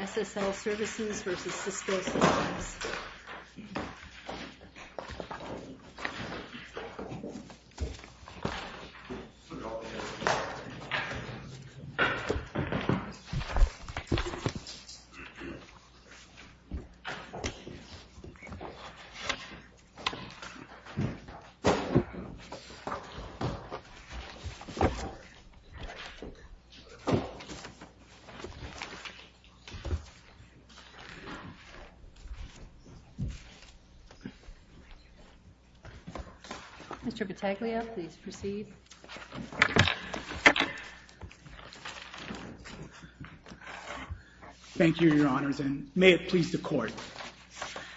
SSL Services v. Cisco Services, Inc. Mr. Battaglia, please proceed. Thank you, Your Honors, and may it please the Court,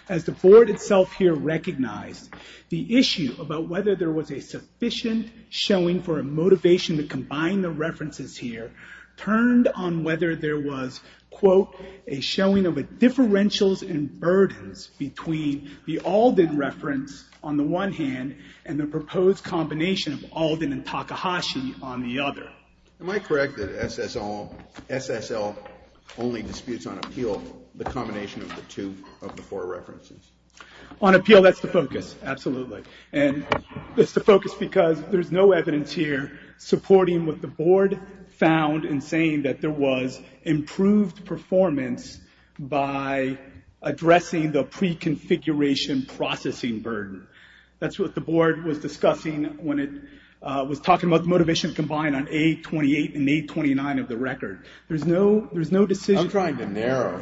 as the Board itself here recognized, the issue about whether there was a sufficient showing for a motivation to combine the references here, turned on whether there was, quote, a showing of a differentials and burdens between the Alden reference on the one hand, and the proposed combination of Alden and Takahashi on the other. Am I correct that SSL only disputes on appeal the combination of the two of the four references? On appeal, that's the focus, absolutely, and it's the focus because there's no evidence here supporting what the Board found in saying that there was improved performance by addressing the pre-configuration processing burden. That's what the Board was discussing when it was talking about the motivation to combine on A-28 and A-29 of the record. There's no decision... I'm trying to narrow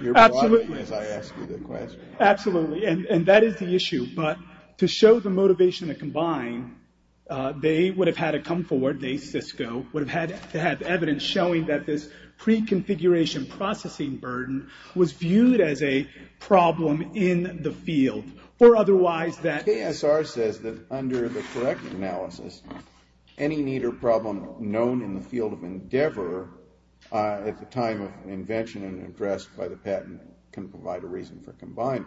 your broadening as I ask you the question. Absolutely, and that is the issue, but to show the motivation to combine, they would have had to come forward, they, Cisco, would have had to have evidence showing that this pre-configuration processing burden was viewed as a problem in the field, or otherwise that... KSR says that under the correct analysis, any need or problem known in the field of endeavor at the time of invention and addressed by the patent can provide a reason for combining.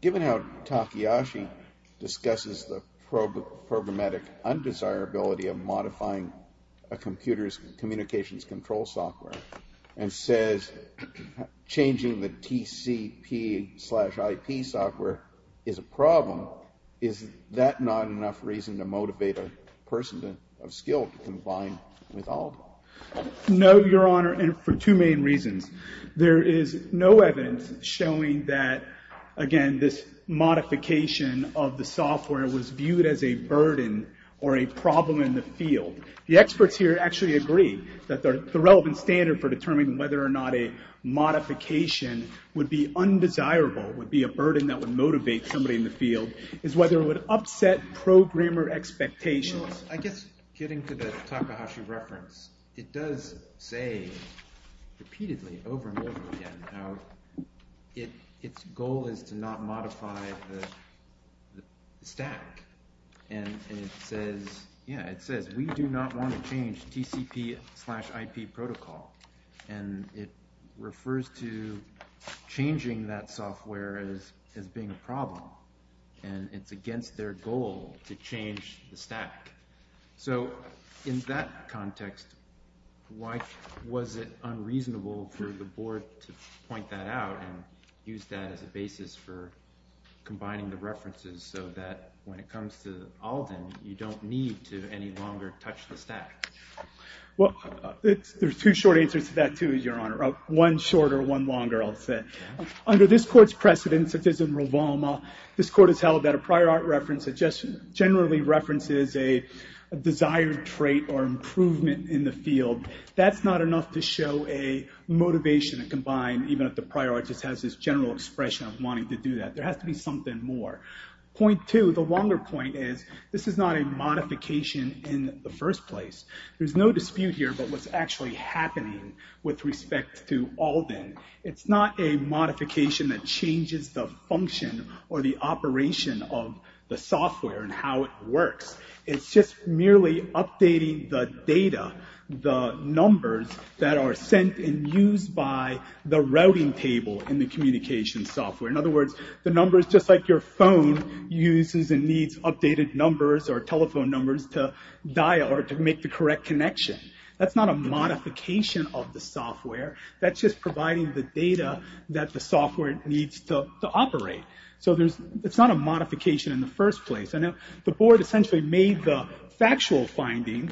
Given how Takayashi discusses the programmatic undesirability of modifying a computer's communications control software and says changing the TCP slash IP software is a problem, is that not enough reason to motivate a person of skill to combine with all of them? No, Your Honor, and for two main reasons. There is no evidence showing that, again, this modification of the software was viewed as a burden or a problem in the field. The experts here actually agree that the relevant standard for determining whether or not a modification would be undesirable, would be a burden that would motivate somebody in the field, is whether it would upset programmer expectations. I guess getting to the Takahashi reference, it does say repeatedly over and over again how its goal is to not modify the stack, and it says, yeah, it says we do not want to change TCP slash IP protocol, and it refers to changing that software as being a problem, and it's their goal to change the stack. So in that context, why was it unreasonable for the board to point that out and use that as a basis for combining the references so that when it comes to Alden, you don't need to any longer touch the stack? Well, there's two short answers to that, too, Your Honor. One shorter, one longer, I'll say. Under this court's precedence, it is in Rivalma, this court has held that a prior art reference generally references a desired trait or improvement in the field. That's not enough to show a motivation to combine, even if the prior artist has this general expression of wanting to do that. There has to be something more. Point two, the longer point is, this is not a modification in the first place. There's no dispute here about what's actually happening with respect to Alden. It's not a modification that changes the function or the operation of the software and how it works. It's just merely updating the data, the numbers that are sent and used by the routing table in the communication software. In other words, the numbers just like your phone uses and needs updated numbers or telephone numbers to make the correct connection. That's not a modification of the software. That's just providing the data that the software needs to operate. It's not a modification in the first place. I know the board essentially made the factual finding,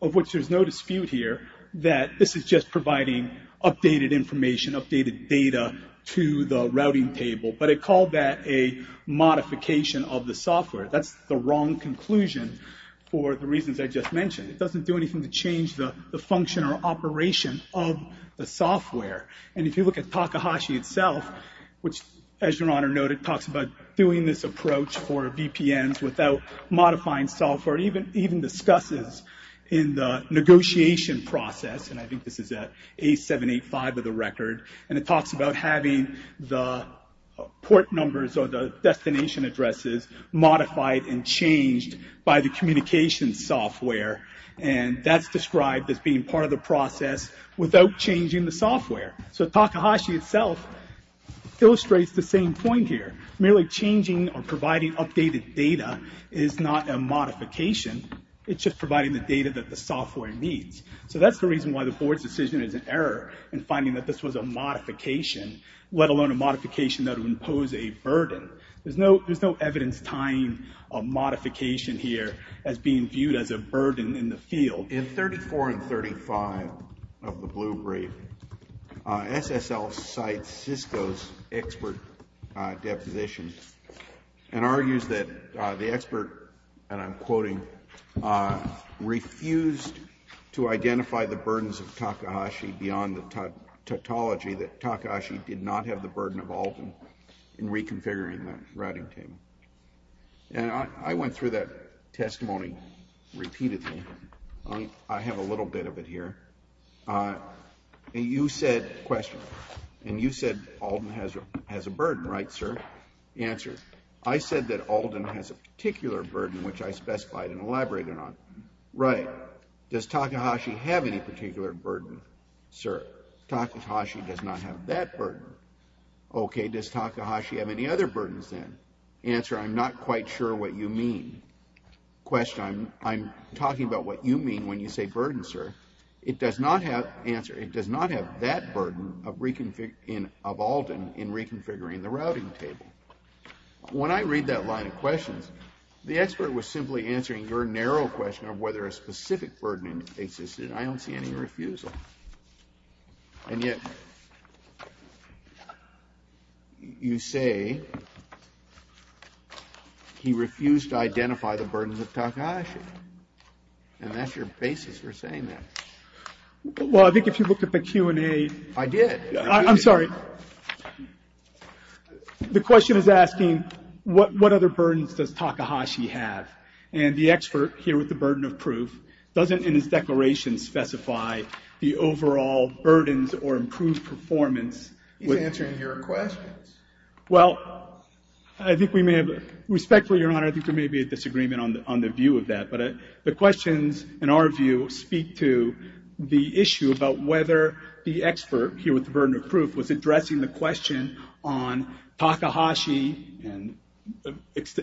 of which there's no dispute here, that this is just providing updated information, updated data to the routing table, but it called that a modification of the software. That's the wrong conclusion for the reasons I just mentioned. It doesn't do anything to change the function or operation of the software. If you look at Takahashi itself, which as your Honor noted, talks about doing this approach for VPNs without modifying software, even discusses in the negotiation process, and I think this is at A785 of the record, and it talks about having the port numbers or destination addresses modified and changed by the communication software. That's described as being part of the process without changing the software. Takahashi itself illustrates the same point here. Merely changing or providing updated data is not a modification. It's just providing the data that the software needs. That's the reason why the board's decision is an error in finding that this was a modification, let alone a modification that would impose a burden. There's no evidence tying a modification here as being viewed as a burden in the field. In 34 and 35 of the Blue Brief, SSL cites Cisco's expert deposition and argues that the expert, and I'm quoting, "...refused to identify the burdens of Takahashi beyond the tautology that Takahashi did not have the burden of Alden in reconfiguring the routing table." And I went through that testimony repeatedly. I have a little bit of it here. You said, question, and you said Alden has a burden, right, sir, the answer. I said that Alden has a particular burden, which I specified and elaborated on. Right. Does Takahashi have any particular burden, sir? Takahashi does not have that burden. Okay, does Takahashi have any other burdens then? Answer, I'm not quite sure what you mean. Question, I'm talking about what you mean when you say burden, sir. It does not have, answer, it does not have that burden of reconfiguring, of Alden in reconfiguring the routing table. When I read that line of questions, the expert was simply answering your narrow question of whether a specific burden existed. I don't see any refusal. And yet, you say he refused to identify the burdens of Takahashi. And that's your basis for saying that. Well, I think if you look at the Q&A. I did. I'm sorry. The question is asking, what other burdens does Takahashi have? And the expert here with the burden of proof doesn't in his declaration specify the overall burdens or improved performance. He's answering your questions. Well, I think we may have, respectfully, Your Honor, I think there may be a disagreement on the view of that. But the questions, in our view, speak to the issue about whether the expert here with the burden of proof is addressing the question on Takahashi and,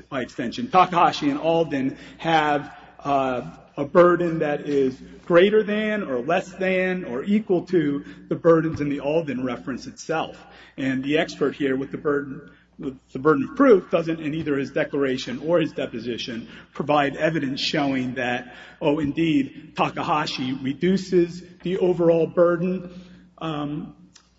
by extension, Takahashi and Alden have a burden that is greater than or less than or equal to the burdens in the Alden reference itself. And the expert here with the burden of proof doesn't, in either his declaration or his deposition, provide evidence showing that, oh indeed, Takahashi reduces the overall burden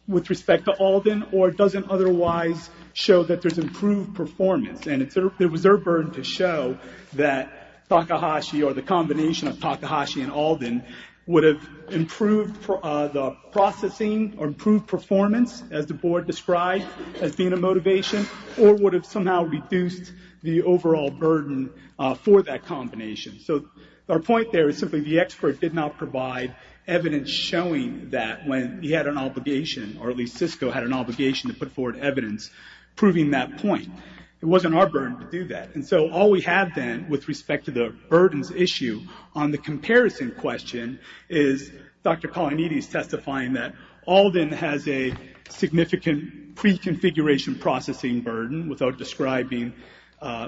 with respect to Alden or doesn't otherwise show that there's improved performance. And it was their burden to show that Takahashi or the combination of Takahashi and Alden would have improved the processing or improved performance, as the board described, as being a motivation or would have somehow reduced the overall burden for that combination. So our point there is simply the expert did not provide evidence showing that when he had an obligation, or at least Cisco had an obligation to put forward evidence proving that point. It wasn't our burden to do that. And so all we have then, with respect to the burdens issue on the comparison question, is Dr. Kalanidhi is testifying that Alden has a significant pre-configuration processing burden without describing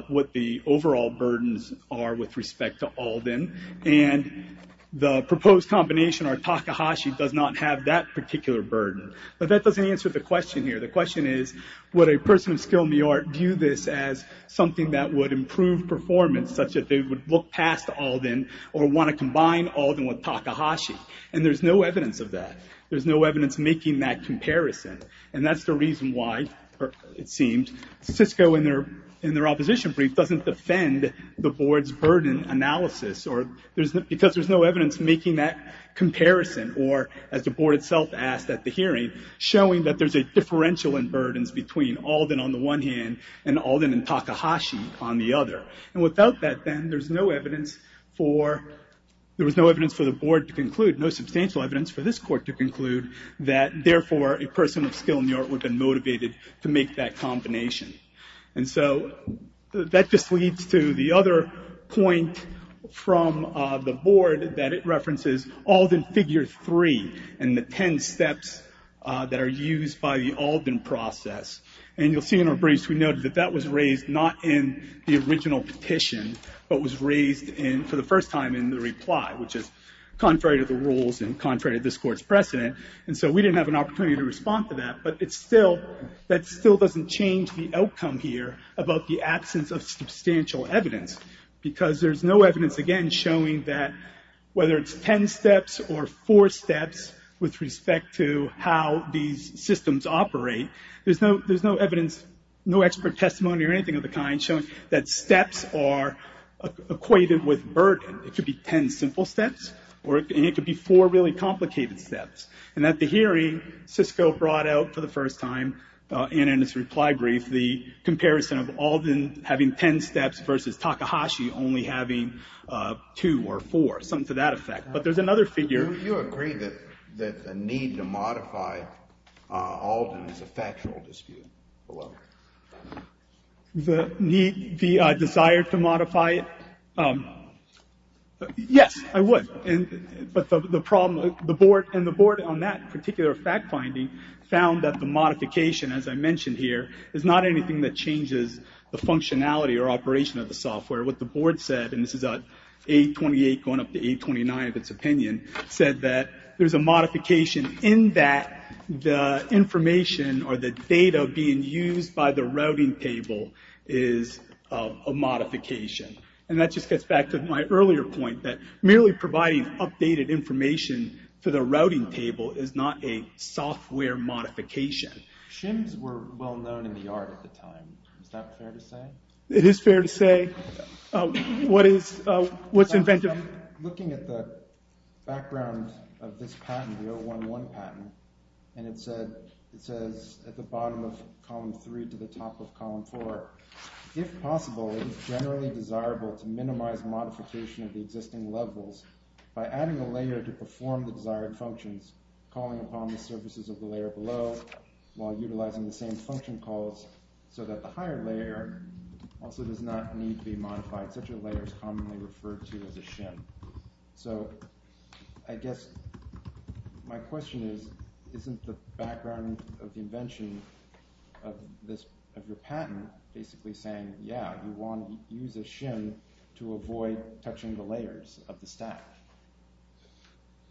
what the overall burdens are with respect to Alden. And the proposed combination or Takahashi does not have that particular burden. But that doesn't answer the question here. The question is, would a person of skill in the art view this as something that would improve performance, such that they would look past Alden or want to combine Alden with Takahashi? And there's no evidence of that. There's no evidence making that comparison. And that's the reason why, it seems, Cisco in their opposition brief doesn't defend the board's burden analysis because there's no evidence making that comparison or, as the board itself asked at the hearing, showing that there's a differential in burdens between Alden on the one hand and Alden and Takahashi on the other. And without that then, there was no evidence for the board to conclude, no substantial evidence for this court to conclude, that therefore, a person of skill in the art would have been motivated to make that combination. And so that just leads to the other point from the board that it references Alden figure three and the 10 steps that are used by the Alden process. And you'll see in our briefs, we noted that that was raised not in the original petition, but was raised for the first time in the reply, which is contrary to the rules and contrary to this court's precedent. And so we didn't have an opportunity to respond to that. But that still doesn't change the outcome here about the absence of substantial evidence because there's no evidence, again, showing that whether it's 10 steps or four steps with respect to how these systems operate, there's no evidence, no expert testimony or anything of the kind showing that steps are equated with burden. It could be 10 simple steps, and it could be four really complicated steps. And at the hearing, Cisco brought out for the first time, and in its reply brief, the comparison of Alden having 10 steps versus Takahashi only having two or four, something to that effect. But there's another figure. Do you agree that the need to modify Alden is a factual dispute? Well, the desire to modify it? Yes, I would. But the board on that particular fact finding found that the modification, as I mentioned here, is not anything that changes the functionality or operation of the software. What the board said, and this is A28 going up to A29 of its opinion, said that there's a modification in that the information or the data being used by the routing table is a modification. And that just gets back to my earlier point that merely providing updated information to the routing table is not a software modification. Shims were well known in the art at the time. It is fair to say. What is what's inventive? Looking at the background of this patent, the 011 patent, and it says at the bottom of column three to the top of column four, if possible, it is generally desirable to minimize modification of the existing levels by adding a layer to perform the desired functions, calling upon the surfaces of the layer below while utilizing the same function calls so that the higher layer also does not need to be modified. Such a layer is commonly referred to as a shim. So I guess my question is, isn't the background of the invention of your patent basically saying, yeah, you want to use a shim to avoid touching the layers of the stack?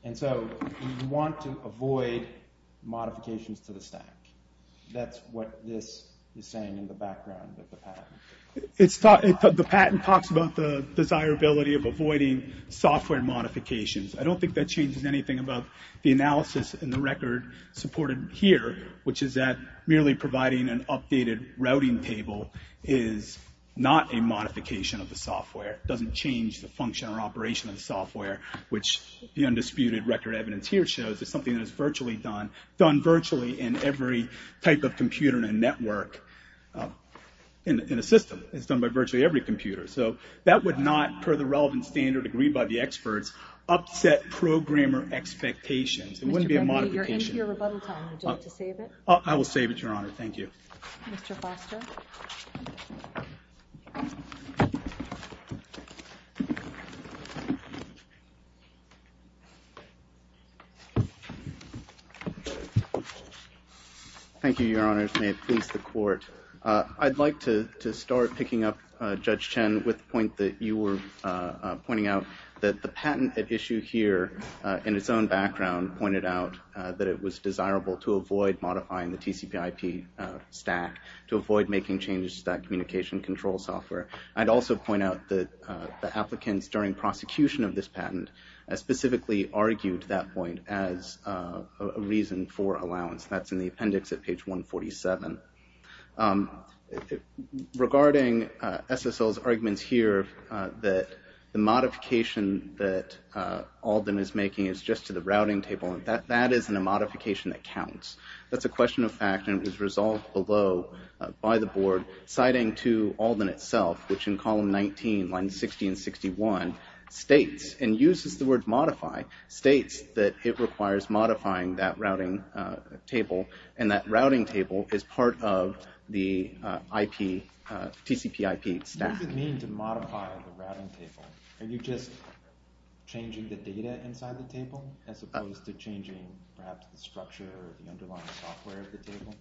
And so we want to avoid modifications to the stack. That's what this is saying in the background of the patent. The patent talks about the desirability of avoiding software modifications. I don't think that changes anything about the analysis and the record supported here, which is that merely providing an updated routing table is not a modification of the software. It doesn't change the function or operation of the software, which the undisputed record evidence here shows is something that is done virtually in every type of computer in a network, in a system. It's done by virtually every computer. So that would not, per the relevant standard agreed by the experts, upset programmer expectations. It wouldn't be a modification. Your rebuttal time, would you like to save it? I will save it, Your Honor. Thank you. Mr. Foster. Thank you, Your Honors. May it please the Court. I'd like to start picking up Judge Chen with the point that you were pointing out, that the patent at issue here, in its own background, pointed out that it was desirable to avoid modifying the TCPIP stack, to avoid making changes to that communication control software. I'd also point out that the applicants during prosecution of this patent specifically argued that point as a reason for allowance. That's in the appendix at page 147. Regarding SSL's arguments here that the modification that Alden is making is just to the routing table, that isn't a modification that counts. That's a question of fact, and it was resolved below by the Board, citing to Alden itself, which in column 19, lines 60 and 61, states, and uses the word modify, states that it requires modifying that routing table, and that routing table is part of the TCPIP stack. What does it mean to modify the routing table? Are you just changing the data inside the table, as opposed to changing, perhaps, the structure or the underlying software of the table?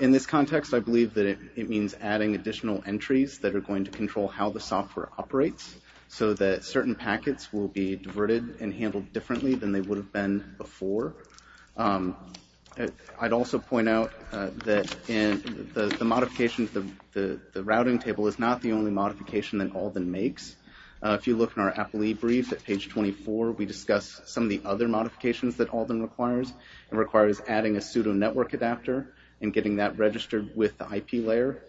In this context, I believe that it means adding additional entries that are going to control how the software operates, so that certain packets will be diverted and handled differently than they would have been before. I'd also point out that the modification, the routing table is not the only modification that Alden makes. If you look in our applie brief at page 24, we discuss some of the other modifications that Alden requires. It requires adding a pseudo network adapter, and getting that registered with the IP layer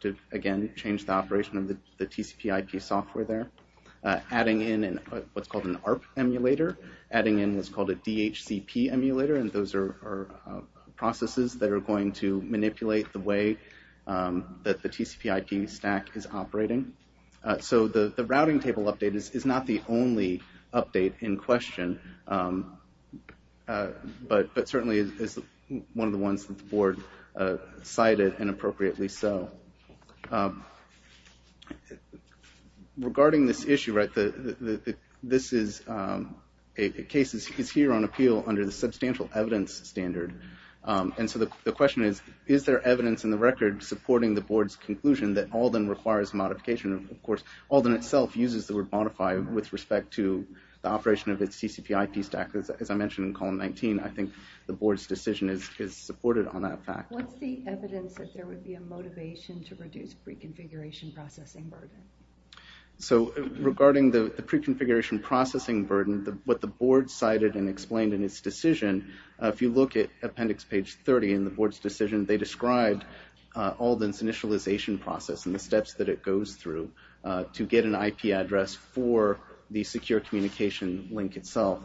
to, again, change the operation of the TCPIP software there. Adding in what's called an ARP emulator, adding in what's called a DHCP emulator, and those are processes that are going to manipulate the way that the TCPIP stack is operating. The routing table update is not the only update in question, but certainly is one of the ones that the board cited, and appropriately so. Regarding this issue, this case is here on appeal under the substantial evidence standard. The question is, is there evidence in the record supporting the board's conclusion that Alden requires modification? Of course, Alden itself uses the word modify with respect to the operation of its TCPIP stack. As I mentioned in column 19, I think the board's decision is supported on that fact. What's the evidence that there would be a motivation to reduce pre-configuration processing burden? So, regarding the pre-configuration processing burden, what the board cited and explained in its decision, if you look at appendix page 30 in the board's decision, they described Alden's initialization process and the steps that it goes through to get an IP address for the secure communication link itself.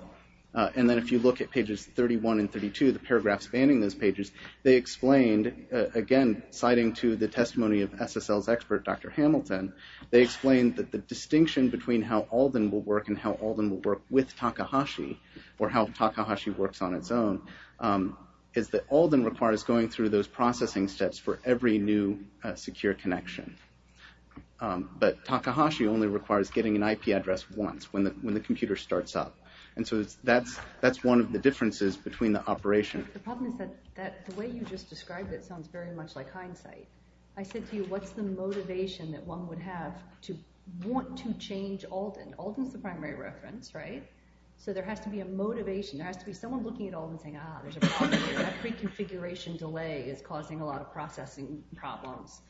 And then if you look at pages 31 and 32, the paragraph spanning those pages, they explained, again, citing to the testimony of SSL's expert, Dr. Hamilton, they explained that the distinction between how Alden will work and how Alden will work with Takahashi, or how Takahashi works on its own, is that Alden requires going through those processing steps for every new secure connection. But Takahashi only requires getting an IP address once, when the computer starts up. And so that's one of the differences between the operation. The problem is that the way you just described it sounds very much like hindsight. I said to you, what's the motivation that one would have to want to change Alden? Alden's the primary reference, right? So there has to be a motivation. There has to be someone looking at Alden saying, ah, there's a problem here. That pre-configuration delay is causing a lot of processing problems.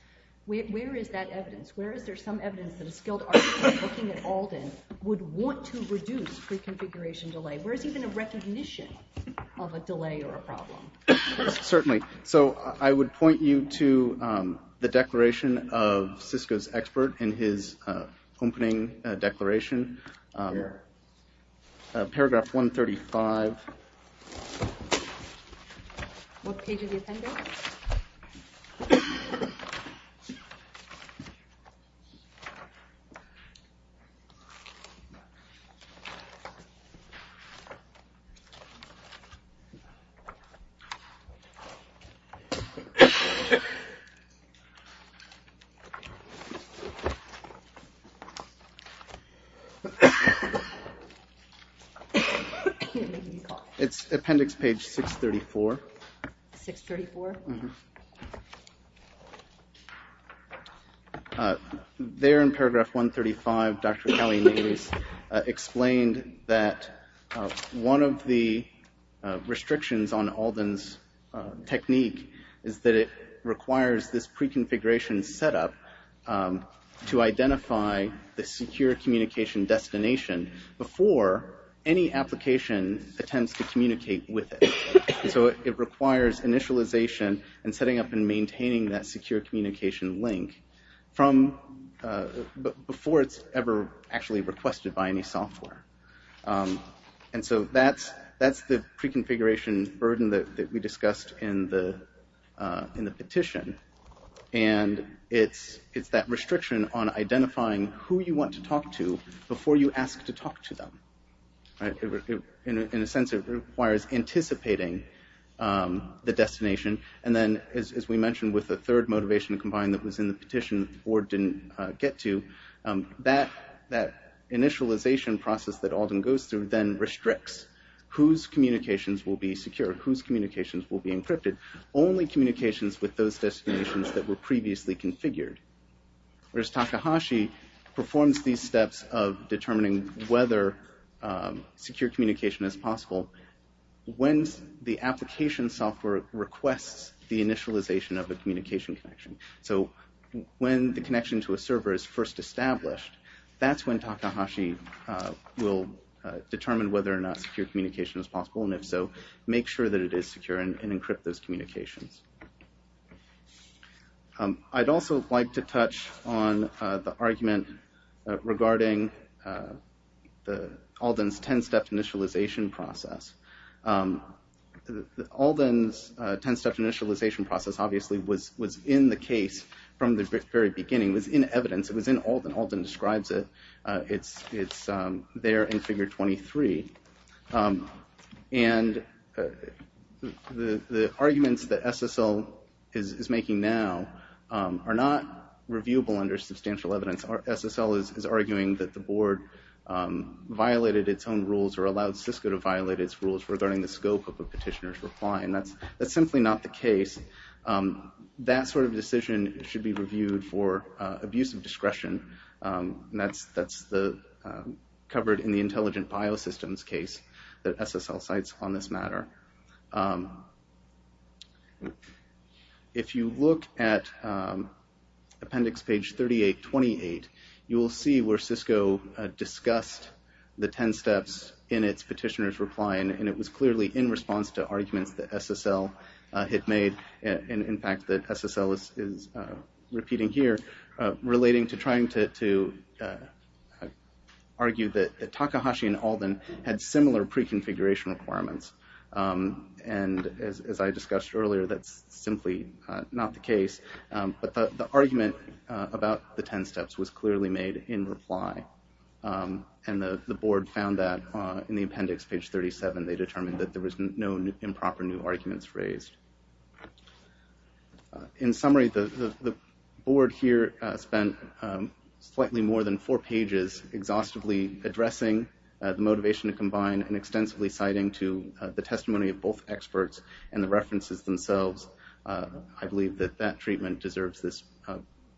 Where is that evidence? Where is there some evidence that a skilled architect looking at Alden would want to reduce pre-configuration delay? Where is even a recognition of a delay or a problem? Yes, certainly. So I would point you to the declaration of Cisco's expert in his opening declaration. Paragraph 135. What page of the appendix? I can't make any calls. It's appendix page 634. 634? There in paragraph 135, Dr. Kelly-Natives explained that one of the restrictions on Alden's technique is that it requires this pre-configuration setup to identify the secure communication destination before any application attempts to communicate with it. So it requires initialization and setting up and maintaining that secure communication link before it's ever actually requested by any software. And so that's the pre-configuration burden that we discussed in the petition. And it's that restriction on identifying who you want to talk to before you ask to talk to them. In a sense, it requires anticipating the destination. And then, as we mentioned, with the third motivation combined that was in the petition the board didn't get to, that initialization process that Alden goes through then restricts only communications with those destinations that were previously configured. Whereas Takahashi performs these steps of determining whether secure communication is possible when the application software requests the initialization of a communication connection. So when the connection to a server is first established, that's when Takahashi will determine whether or not secure communication is possible. And if so, make sure that it is secure and encrypt those communications. I'd also like to touch on the argument regarding Alden's 10-step initialization process. Alden's 10-step initialization process, obviously, was in the case from the very beginning. It was in evidence. It was in Alden. Alden describes it. It's there in figure 23. And the arguments that SSL is making now are not reviewable under substantial evidence. SSL is arguing that the board violated its own rules or allowed Cisco to violate its rules regarding the scope of a petitioner's reply. And that's simply not the case. That sort of decision should be reviewed for abuse of discretion. And that's covered in the Intelligent Biosystems case that SSL cites on this matter. If you look at appendix page 3828, you will see where Cisco discussed the 10 steps in its petitioner's reply. And it was clearly in response to arguments that SSL had made. And in fact, that SSL is repeating here relating to trying to argue that Takahashi and Alden had similar pre-configuration requirements. And as I discussed earlier, that's simply not the case. But the argument about the 10 steps was clearly made in reply. And the board found that in the appendix, page 37, they determined that there was no improper new arguments raised. In summary, the board here spent slightly more than four pages exhaustively addressing the motivation to combine and extensively citing to the testimony of both experts and the references themselves. I believe that that treatment deserves this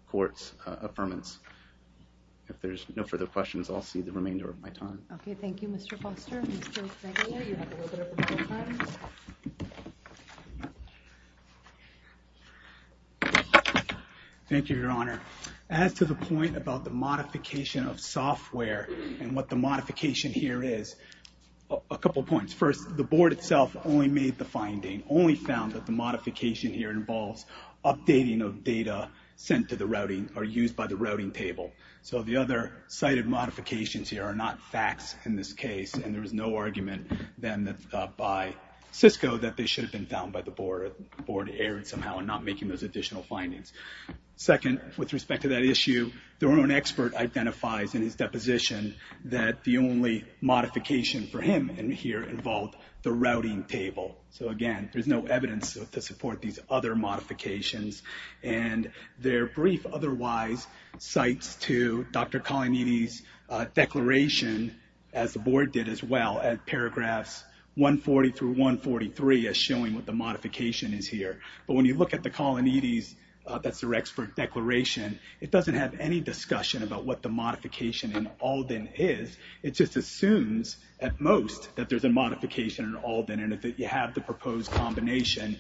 court's affirmance. If there's no further questions, I'll see the remainder of my time. Thank you, Mr. Foster. Thank you, Your Honor. As to the point about the modification of software and what the modification here is, a couple of points. First, the board itself only made the finding, only found that the modification here involves updating of data sent to the routing or used by the routing table. So the other cited modifications here are not facts in this case, and there was no argument then by Cisco that they should have been found by the board, or the board erred somehow in not making those additional findings. Second, with respect to that issue, the wrong expert identifies in his deposition that the only modification for him in here involved the routing table. So again, there's no evidence to support these other modifications. And their brief otherwise cites to Dr. Colanitti's declaration, as the board did as well, at paragraphs 140 through 143, as showing what the modification is here. But when you look at the Colanitti's, that's their expert declaration, it doesn't have any discussion about what the modification in Alden is. It just assumes, at most, that there's a modification in Alden, and if you have the modification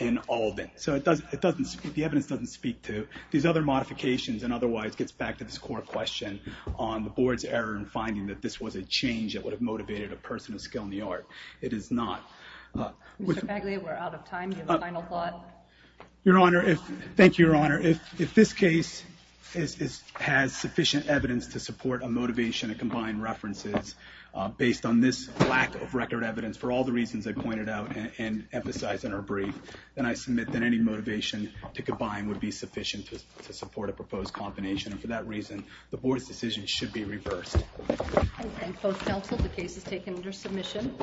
in Alden. So the evidence doesn't speak to these other modifications, and otherwise gets back to this core question on the board's error in finding that this was a change that would have motivated a person of skill in the art. It is not. Mr. Paglia, we're out of time. Do you have a final thought? Your Honor, thank you, Your Honor. If this case has sufficient evidence to support a motivation to combine references based on this lack of record evidence, for all the reasons I pointed out and emphasized in our brief, then I submit that any motivation to combine would be sufficient to support a proposed combination. And for that reason, the board's decision should be reversed. I thank both counsel. The case is taken under submission.